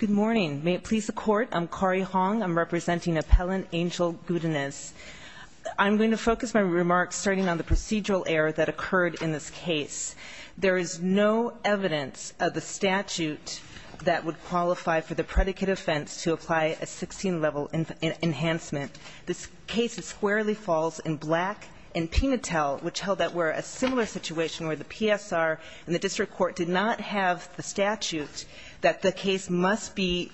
Good morning. May it please the court, I'm Kari Hong, I'm representing appellant Angel Godinez. I'm going to focus my remarks starting on the procedural error that occurred in this case. There is no evidence of the statute that would qualify for the predicate offense to apply a 16-level enhancement. This case squarely falls in Black and Pinatel, which held that we're in a similar situation where the PSR and the district court did not have the statute that the case must be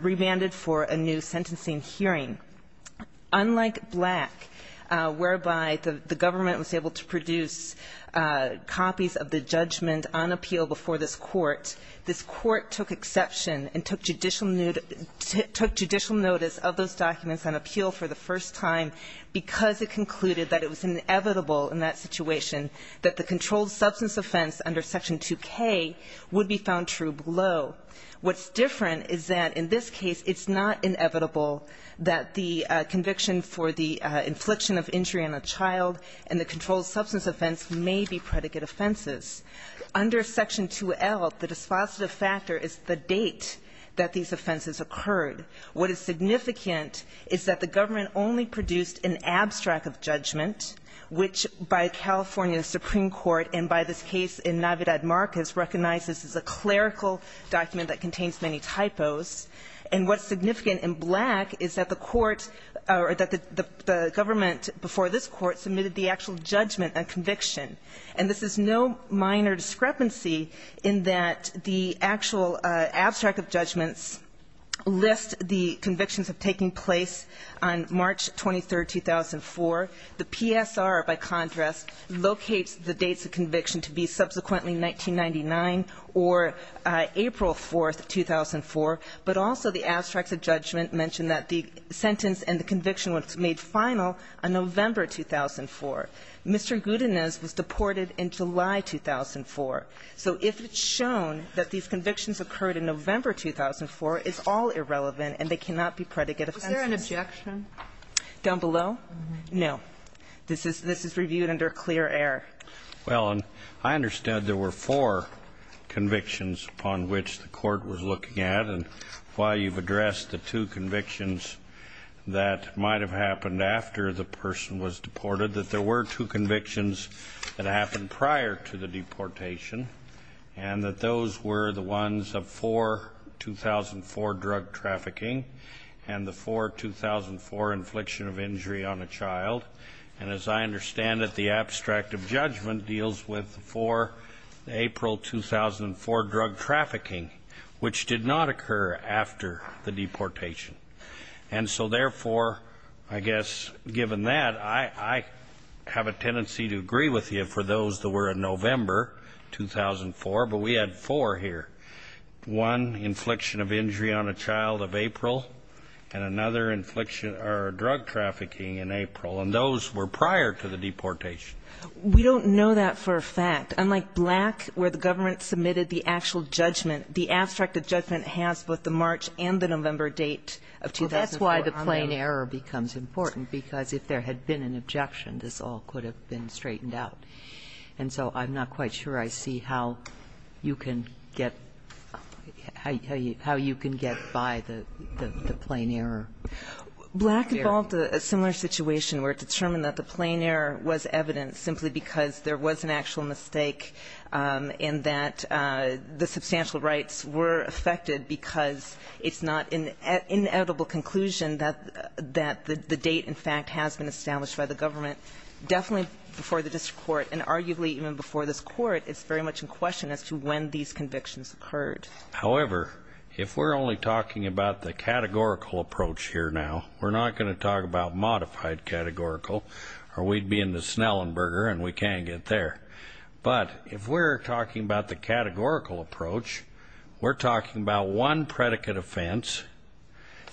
remanded for a new sentencing hearing. Unlike Black, whereby the government was able to produce copies of the judgment on appeal before this court, this court took exception and took judicial notice of those documents on appeal for the first time because it concluded that it was inevitable in that situation that the controlled substance offense under Section 2K would be found true below. What's different is that in this case it's not inevitable that the conviction for the infliction of injury on a child and the controlled substance offense may be predicate offenses. Under Section 2L, the dispositive factor is the date that these offenses occurred. What is significant is that the government only produced an abstract of judgment, which by California Supreme Court, and by this case in Navidad Marquez, recognizes this is a clerical document that contains many typos. And what's significant in Black is that the court or that the government before this court submitted the actual judgment and conviction. And this is no minor discrepancy in that the actual abstract of judgments lists the convictions of taking place on March 23, 2004. The PSR, by contrast, locates the dates of conviction to be subsequently 1999 or April 4, 2004. But also the abstracts of judgment mention that the sentence and the conviction was made final on November 2004. Mr. Gudanez was deported in July 2004. So if it's shown that these convictions occurred in November 2004, it's all irrelevant and they cannot be predicate offenses. Sotomayor, was there an objection? Down below? No. This is reviewed under clear air. Well, I understand there were four convictions upon which the court was looking at. And while you've addressed the two convictions that might have happened after the person was deported, that there were two convictions that happened prior to the deportation, and that those were the ones of 4-2004 drug trafficking and the 4-2004 infliction of injury on a child. And as I understand it, the abstract of judgment deals with the 4-April 2004 drug trafficking, which did not occur after the deportation. And so therefore, I guess, given that, I have a tendency to agree with you for those that were in November 2004, but we had four here. One, infliction of drug trafficking in April, and those were prior to the deportation. We don't know that for a fact. Unlike Black, where the government submitted the actual judgment, the abstract of judgment has both the March and the November date of 2004 on them. Well, that's why the plain error becomes important, because if there had been an objection, this all could have been straightened out. And so I'm not quite sure I see how you can get how you can get by the plain error. Black involved a similar situation where it determined that the plain error was evident simply because there was an actual mistake, and that the substantial rights were affected because it's not an inedible conclusion that the date, in fact, has been established by the government. Definitely before the district court, and arguably even before this court, it's very much in question as to when these convictions occurred. However, if we're only talking about the categorical approach here now, we're not going to talk about modified categorical, or we'd be in the Snellenberger and we can't get there. But if we're talking about the categorical approach, we're talking about one predicate offense,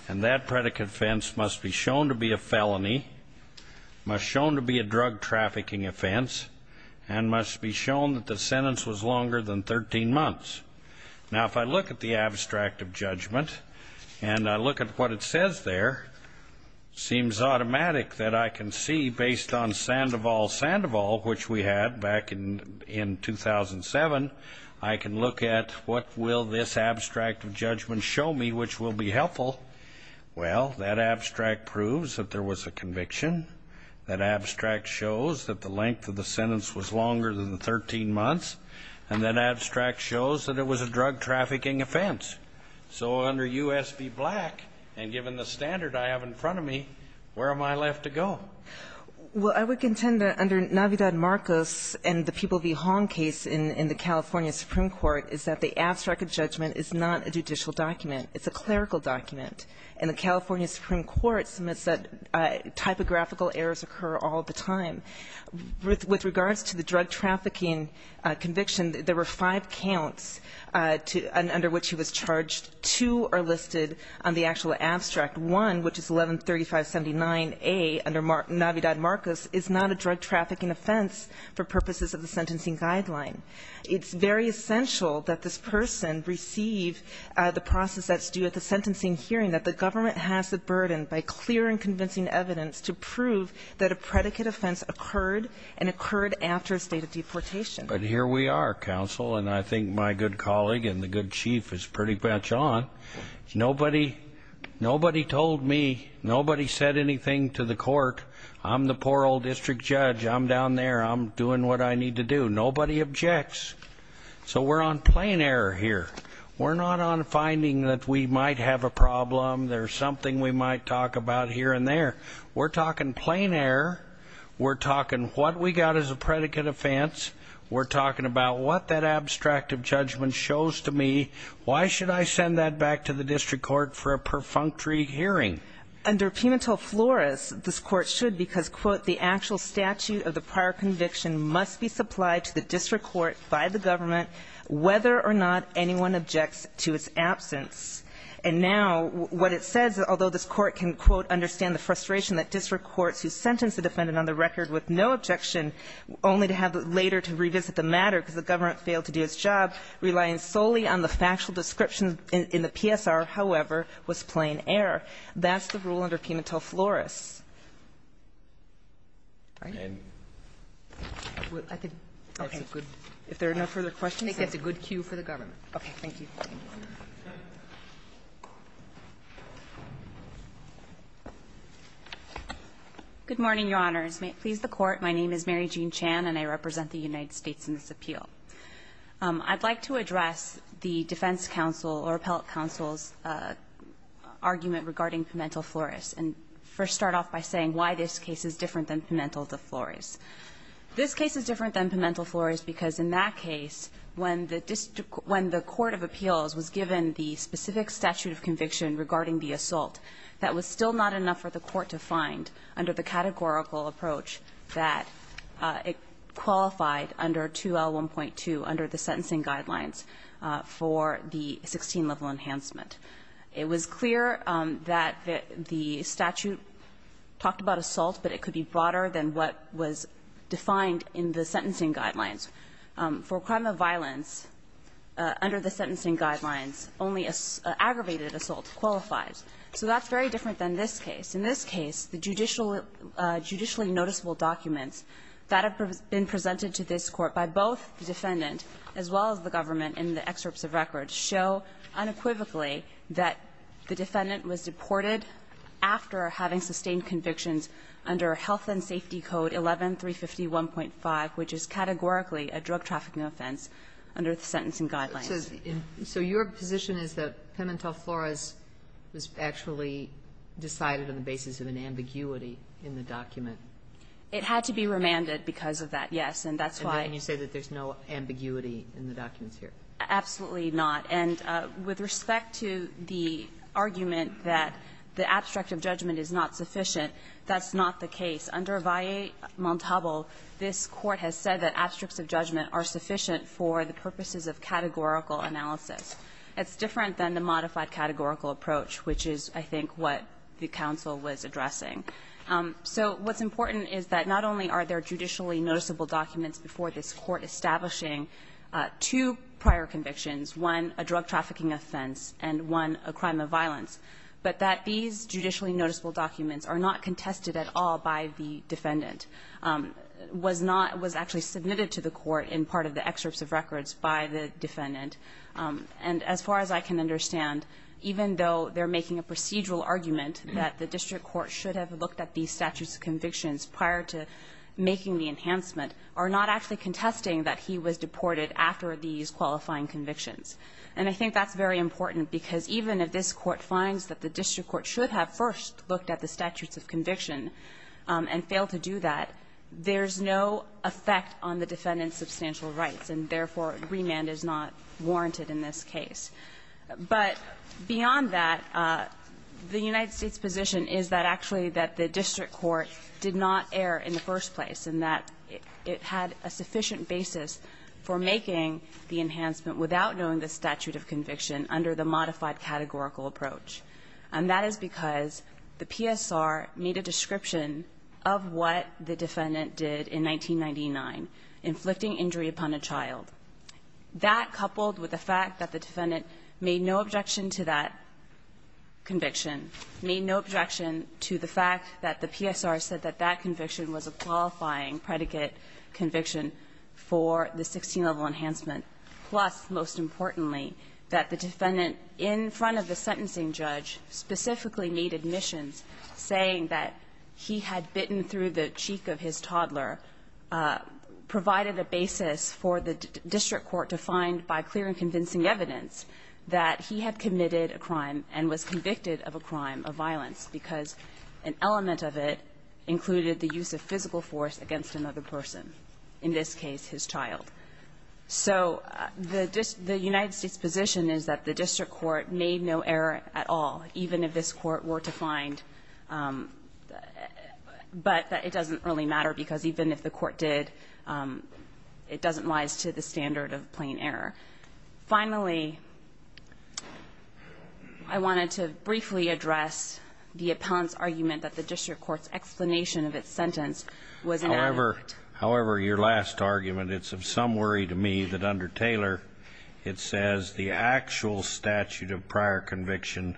and that predicate offense must be shown to be a felony, must shown to be a drug trafficking offense, and must be shown that the sentence was longer than 13 months. Now if I look at the abstract of judgment, and I look at what it says there, seems automatic that I can see based on Sandoval Sandoval, which we had back in in 2007, I can look at what will this abstract of judgment show me which will be helpful. Well, that abstract proves that there was a conviction. That abstract shows that the length of the sentence was 13 months, and that abstract shows that it was a drug trafficking offense. So under U.S. v. Black, and given the standard I have in front of me, where am I left to go? Well, I would contend that under Navidad-Marcos and the People v. Hong case in the California Supreme Court, is that the abstract of judgment is not a judicial document. It's a clerical document. And the California Supreme Court submits that typographical errors occur all the time. With regards to the drug trafficking conviction, there were five counts under which he was charged. Two are listed on the actual abstract. One, which is 113579A under Navidad-Marcos, is not a drug trafficking offense for purposes of the sentencing guideline. It's very essential that this person receive the process that's due at the sentencing hearing, that the government has the burden, by clear and convincing evidence, to prove that a predicate offense occurred and occurred after a state of deportation. But here we are, counsel, and I think my good colleague and the good chief is pretty much on. Nobody told me, nobody said anything to the court. I'm the poor old district judge. I'm down there. I'm doing what I need to do. Nobody objects. So we're on plain error here. We're not on finding that we might have a problem, there's something we might talk about here and there. We're talking plain error. We're talking what we got as a predicate offense. We're talking about what that abstract of judgment shows to me. Why should I send that back to the district court for a perfunctory hearing? Under Penitent Flores, this court should because, quote, the actual statute of the prior conviction must be supplied to the district court by the government, whether or not anyone objects to its absence. And now what it says, although this court can, quote, understand the frustration that district courts who sentenced the defendant on the record with no objection, only to have later to revisit the matter because the government failed to do its job, relying solely on the factual description in the PSR, however, was plain error. That's the rule under Penitent Flores. All right. If there are no further questions, that's a good cue for the government. Okay. Thank you. Good morning, Your Honors. May it please the Court. My name is Mary Jean Chan, and I represent the United States in this appeal. I'd like to address the defense counsel, or appellate counsel's argument regarding Penitent Flores, and first start off by saying why this case is different than Penitent Flores. This case is different than Penitent Flores because in that case, when the district – when the court of appeals was given the specific statute of conviction regarding the assault, that was still not enough for the court to find under the categorical approach that it qualified under 2L1.2 under the sentencing guidelines for the 16-level enhancement. It was clear that the statute talked about assault, but it could be broader than what was defined in the sentencing guidelines. For a crime of violence, under the sentencing guidelines, only aggravated assault qualifies. So that's very different than this case. In this case, the judicially noticeable documents that have been presented to this Court by both the defendant as well as the government in the excerpts of record show unequivocally that the defendant was deported after having sustained convictions under Health and Safety Code 11350.1.5, which is categorically a drug-trafficking offense under the sentencing guidelines. So your position is that Penitent Flores was actually decided on the basis of an ambiguity in the document? It had to be remanded because of that, yes. And that's why you say that there's no ambiguity in the documents here. Absolutely not. And with respect to the argument that the abstract of judgment is not sufficient, that's not the case. Under Valle Montalvo, this Court has said that abstracts of judgment are sufficient for the purposes of categorical analysis. It's different than the modified categorical approach, which is, I think, what the counsel was addressing. So what's important is that not only are there judicially noticeable documents before this Court establishing two prior convictions, one a drug-trafficking offense and one a crime of violence, but that these judicially noticeable documents are not contested at all by the defendant, was not – was actually submitted to the Court in part of the excerpts of records by the defendant. And as far as I can understand, even though they're making a procedural argument that the district court should have looked at these statutes of convictions prior to making the enhancement, are not actually contesting that he was deported after these qualifying convictions. And I think that's very important, because even if this Court finds that the district court should have first looked at the statutes of conviction and failed to do that, there's no effect on the defendant's substantial rights, and therefore, remand is not warranted in this case. But beyond that, the United States position is that actually that the district court did not err in the first place, and that it had a sufficient basis for making the enhancement without knowing the statute of conviction under the modified categorical approach. And that is because the PSR made a description of what the defendant did in 1999, inflicting injury upon a child. That, coupled with the fact that the defendant made no objection to that conviction, made no objection to the fact that the PSR said that that conviction was a qualifying predicate conviction for the 16-level enhancement, plus, most importantly, that the defendant in front of the sentencing judge specifically made admissions saying that he had bitten through the cheek of his toddler, provided a basis for the district court to find by clear and convincing evidence that he had committed a crime and was convicted of a crime of violence, because an element of it included the use of physical force against another person, in this case, his child. So the United States position is that the district court made no error at all, even if this court were to find the – but that it doesn't really matter, because even if the court did, it doesn't rise to the standard of plain error. Finally, I wanted to briefly address the appellant's argument that the district court's explanation of its sentence was inadequate. However, your last argument, it's of some worry to me that under Taylor, it says the actual statute of prior conviction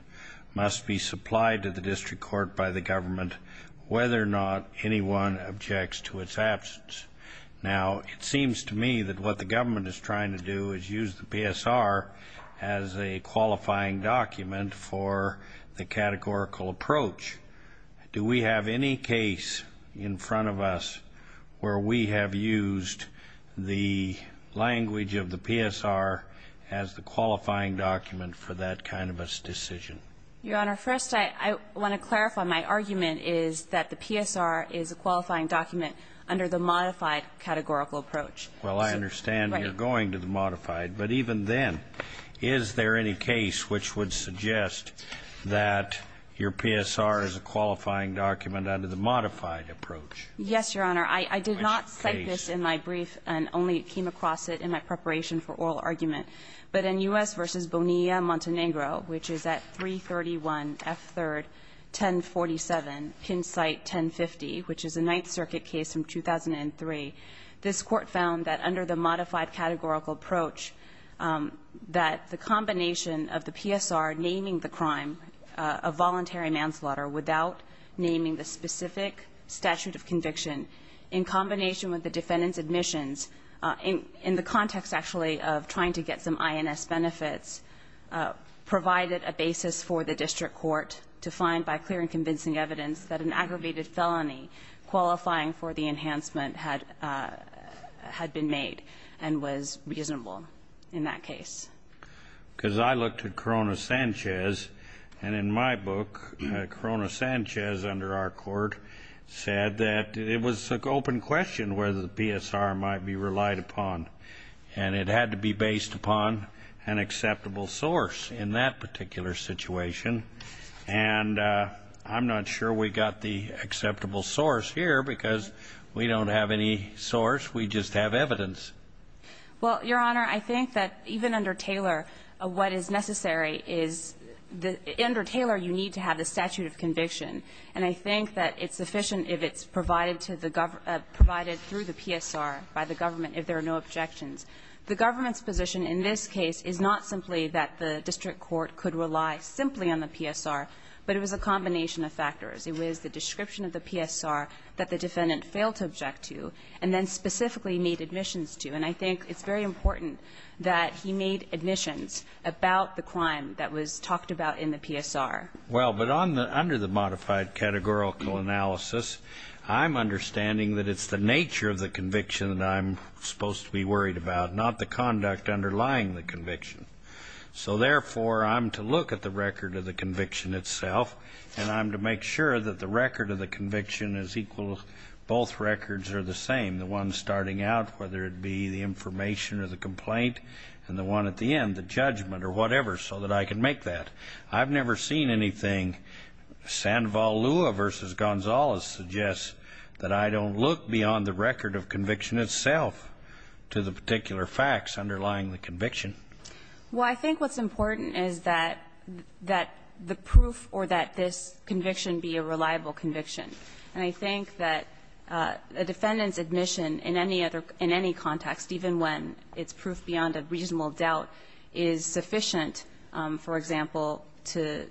must be supplied to the district court by the government whether or not anyone objects to its absence. Now, it seems to me that what the government is trying to do is use the PSR as a qualifying document for the categorical approach. Do we have any case in front of us where we have used the language of the PSR as the qualifying document for that kind of a decision? Your Honor, first, I want to clarify my argument is that the PSR is a qualifying document under the modified categorical approach. Well, I understand you're going to the modified, but even then, is there any case which would suggest that your PSR is a qualifying document under the modified approach? Yes, Your Honor. I did not cite this in my brief and only came across it in my preparation for oral argument. But in U.S. v. Bonilla-Montenegro, which is at 331 F. 3rd, 1047, pin site 1050, which is a Ninth Circuit case from 2003, this court found that under the modified categorical approach that the combination of the PSR naming the crime a voluntary manslaughter without naming the specific statute of conviction in combination with the defendant's admissions in the context actually of trying to get some INS benefits provided a basis for the district court to find by clear and convincing evidence that an aggravated felony qualifying for the enhancement had been made and was reasonable in that case. Because I looked at Corona-Sanchez, and in my book, Corona-Sanchez, under our court, said that it was an open question whether the PSR might be relied upon. And it had to be based upon an acceptable source in that particular situation. And I'm not sure we got the acceptable source here, because we don't have any source. We just have evidence. Well, Your Honor, I think that even under Taylor, what is necessary is the end or Taylor, you need to have the statute of conviction. And I think that it's sufficient if it's provided to the government, provided through the PSR by the government if there are no objections. The government's position in this case is not simply that the district court could rely simply on the PSR, but it was a combination of factors. It was the description of the PSR that the defendant failed to object to, and then specifically made admissions to. And I think it's very important that he made admissions about the crime that was talked about in the PSR. Well, but under the modified categorical analysis, I'm understanding that it's the nature of the conviction that I'm supposed to be worried about, not the conduct underlying the conviction. So therefore, I'm to look at the record of the conviction itself, and I'm to make sure that the record of the conviction is equal. Both records are the same. The one starting out, whether it be the information or the complaint, and the one at the end, the judgment or whatever, so that I can make that. I've never seen anything. Sanval Lua versus Gonzalez suggests that I don't look beyond the record of the conviction. Well, I think what's important is that the proof or that this conviction be a reliable conviction. And I think that a defendant's admission in any other – in any context, even when it's proof beyond a reasonable doubt, is sufficient, for example, to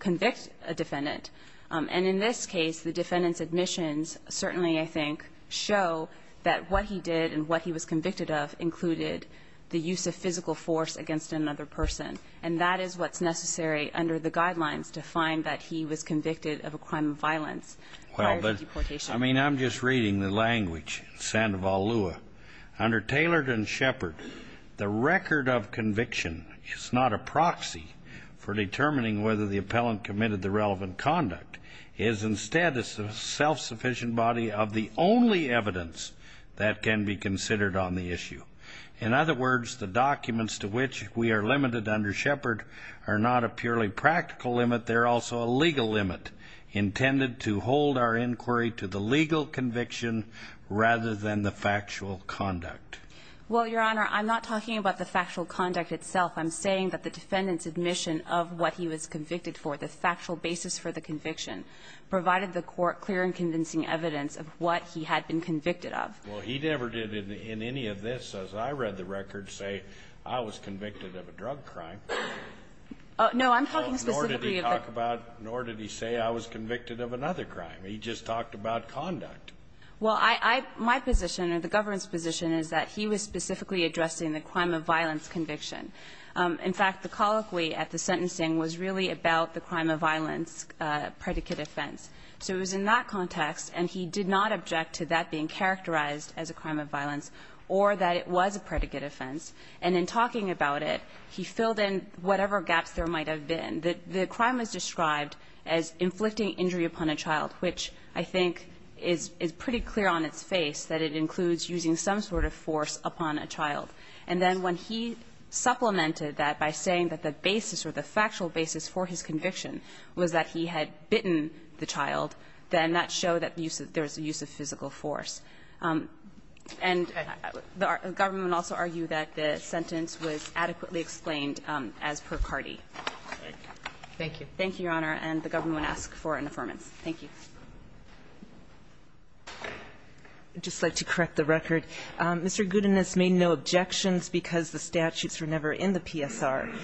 convict a defendant. And in this case, the defendant's admissions certainly, I think, show that what he did and what he was convicted of included the use of physical force against another person. And that is what's necessary under the guidelines to find that he was convicted of a crime of violence prior to deportation. Well, but, I mean, I'm just reading the language, Sanval Lua. Under Taylor and Shepard, the record of conviction is not a proxy for determining whether the appellant committed the relevant conduct. It is instead a self-sufficient body of the only evidence that can be considered on the issue. In other words, the documents to which we are limited under Shepard are not a purely practical limit. They're also a legal limit intended to hold our inquiry to the legal conviction rather than the factual conduct. Well, Your Honor, I'm not talking about the factual conduct itself. I'm saying that the defendant's admission of what he was convicted for, the factual basis for the conviction, provided the Court clear and convincing evidence of what he had been convicted of. Well, he never did in any of this, as I read the record, say, I was convicted of a drug crime. Oh, no, I'm talking specifically of the crime. Nor did he talk about nor did he say I was convicted of another crime. He just talked about conduct. Well, I my position or the government's position is that he was specifically addressing the crime of violence conviction. In fact, the colloquy at the sentencing was really about the crime of violence predicate offense. So it was in that context, and he did not object to that being characterized as a crime of violence or that it was a predicate offense. And in talking about it, he filled in whatever gaps there might have been. The crime is described as inflicting injury upon a child, which I think is pretty clear on its face that it includes using some sort of force upon a child. And then when he supplemented that by saying that the basis or the factual basis for his conviction was that he had bitten the child, then that showed that there was a use of physical force. And the government also argued that the sentence was adequately explained as per CARTI. Thank you. Thank you, Your Honor. And the government would ask for an affirmation. Thank you. I'd just like to correct the record. Mr. Gudanis made no objections because the statutes were never in the PSR.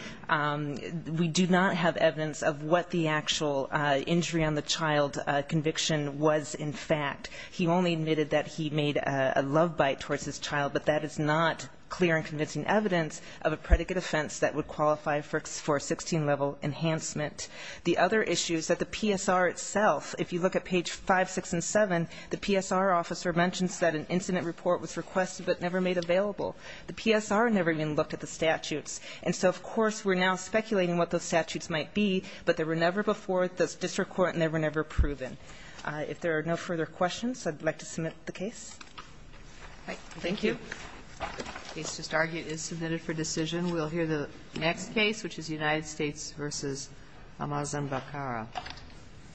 We do not have evidence of what the actual injury on the child conviction was in fact. He only admitted that he made a love bite towards his child, but that is not clear and convincing evidence of a predicate offense that would qualify for 16-level enhancement. The other issue is that the PSR itself, if you look at page 5, 6, and 7, the PSR mentions that an incident report was requested but never made available. The PSR never even looked at the statutes. And so, of course, we're now speculating what those statutes might be, but they were never before the district court, and they were never proven. If there are no further questions, I'd like to submit the case. Thank you. The case just argued is submitted for decision. We'll hear the next case, which is United States v. Amazon Bacara.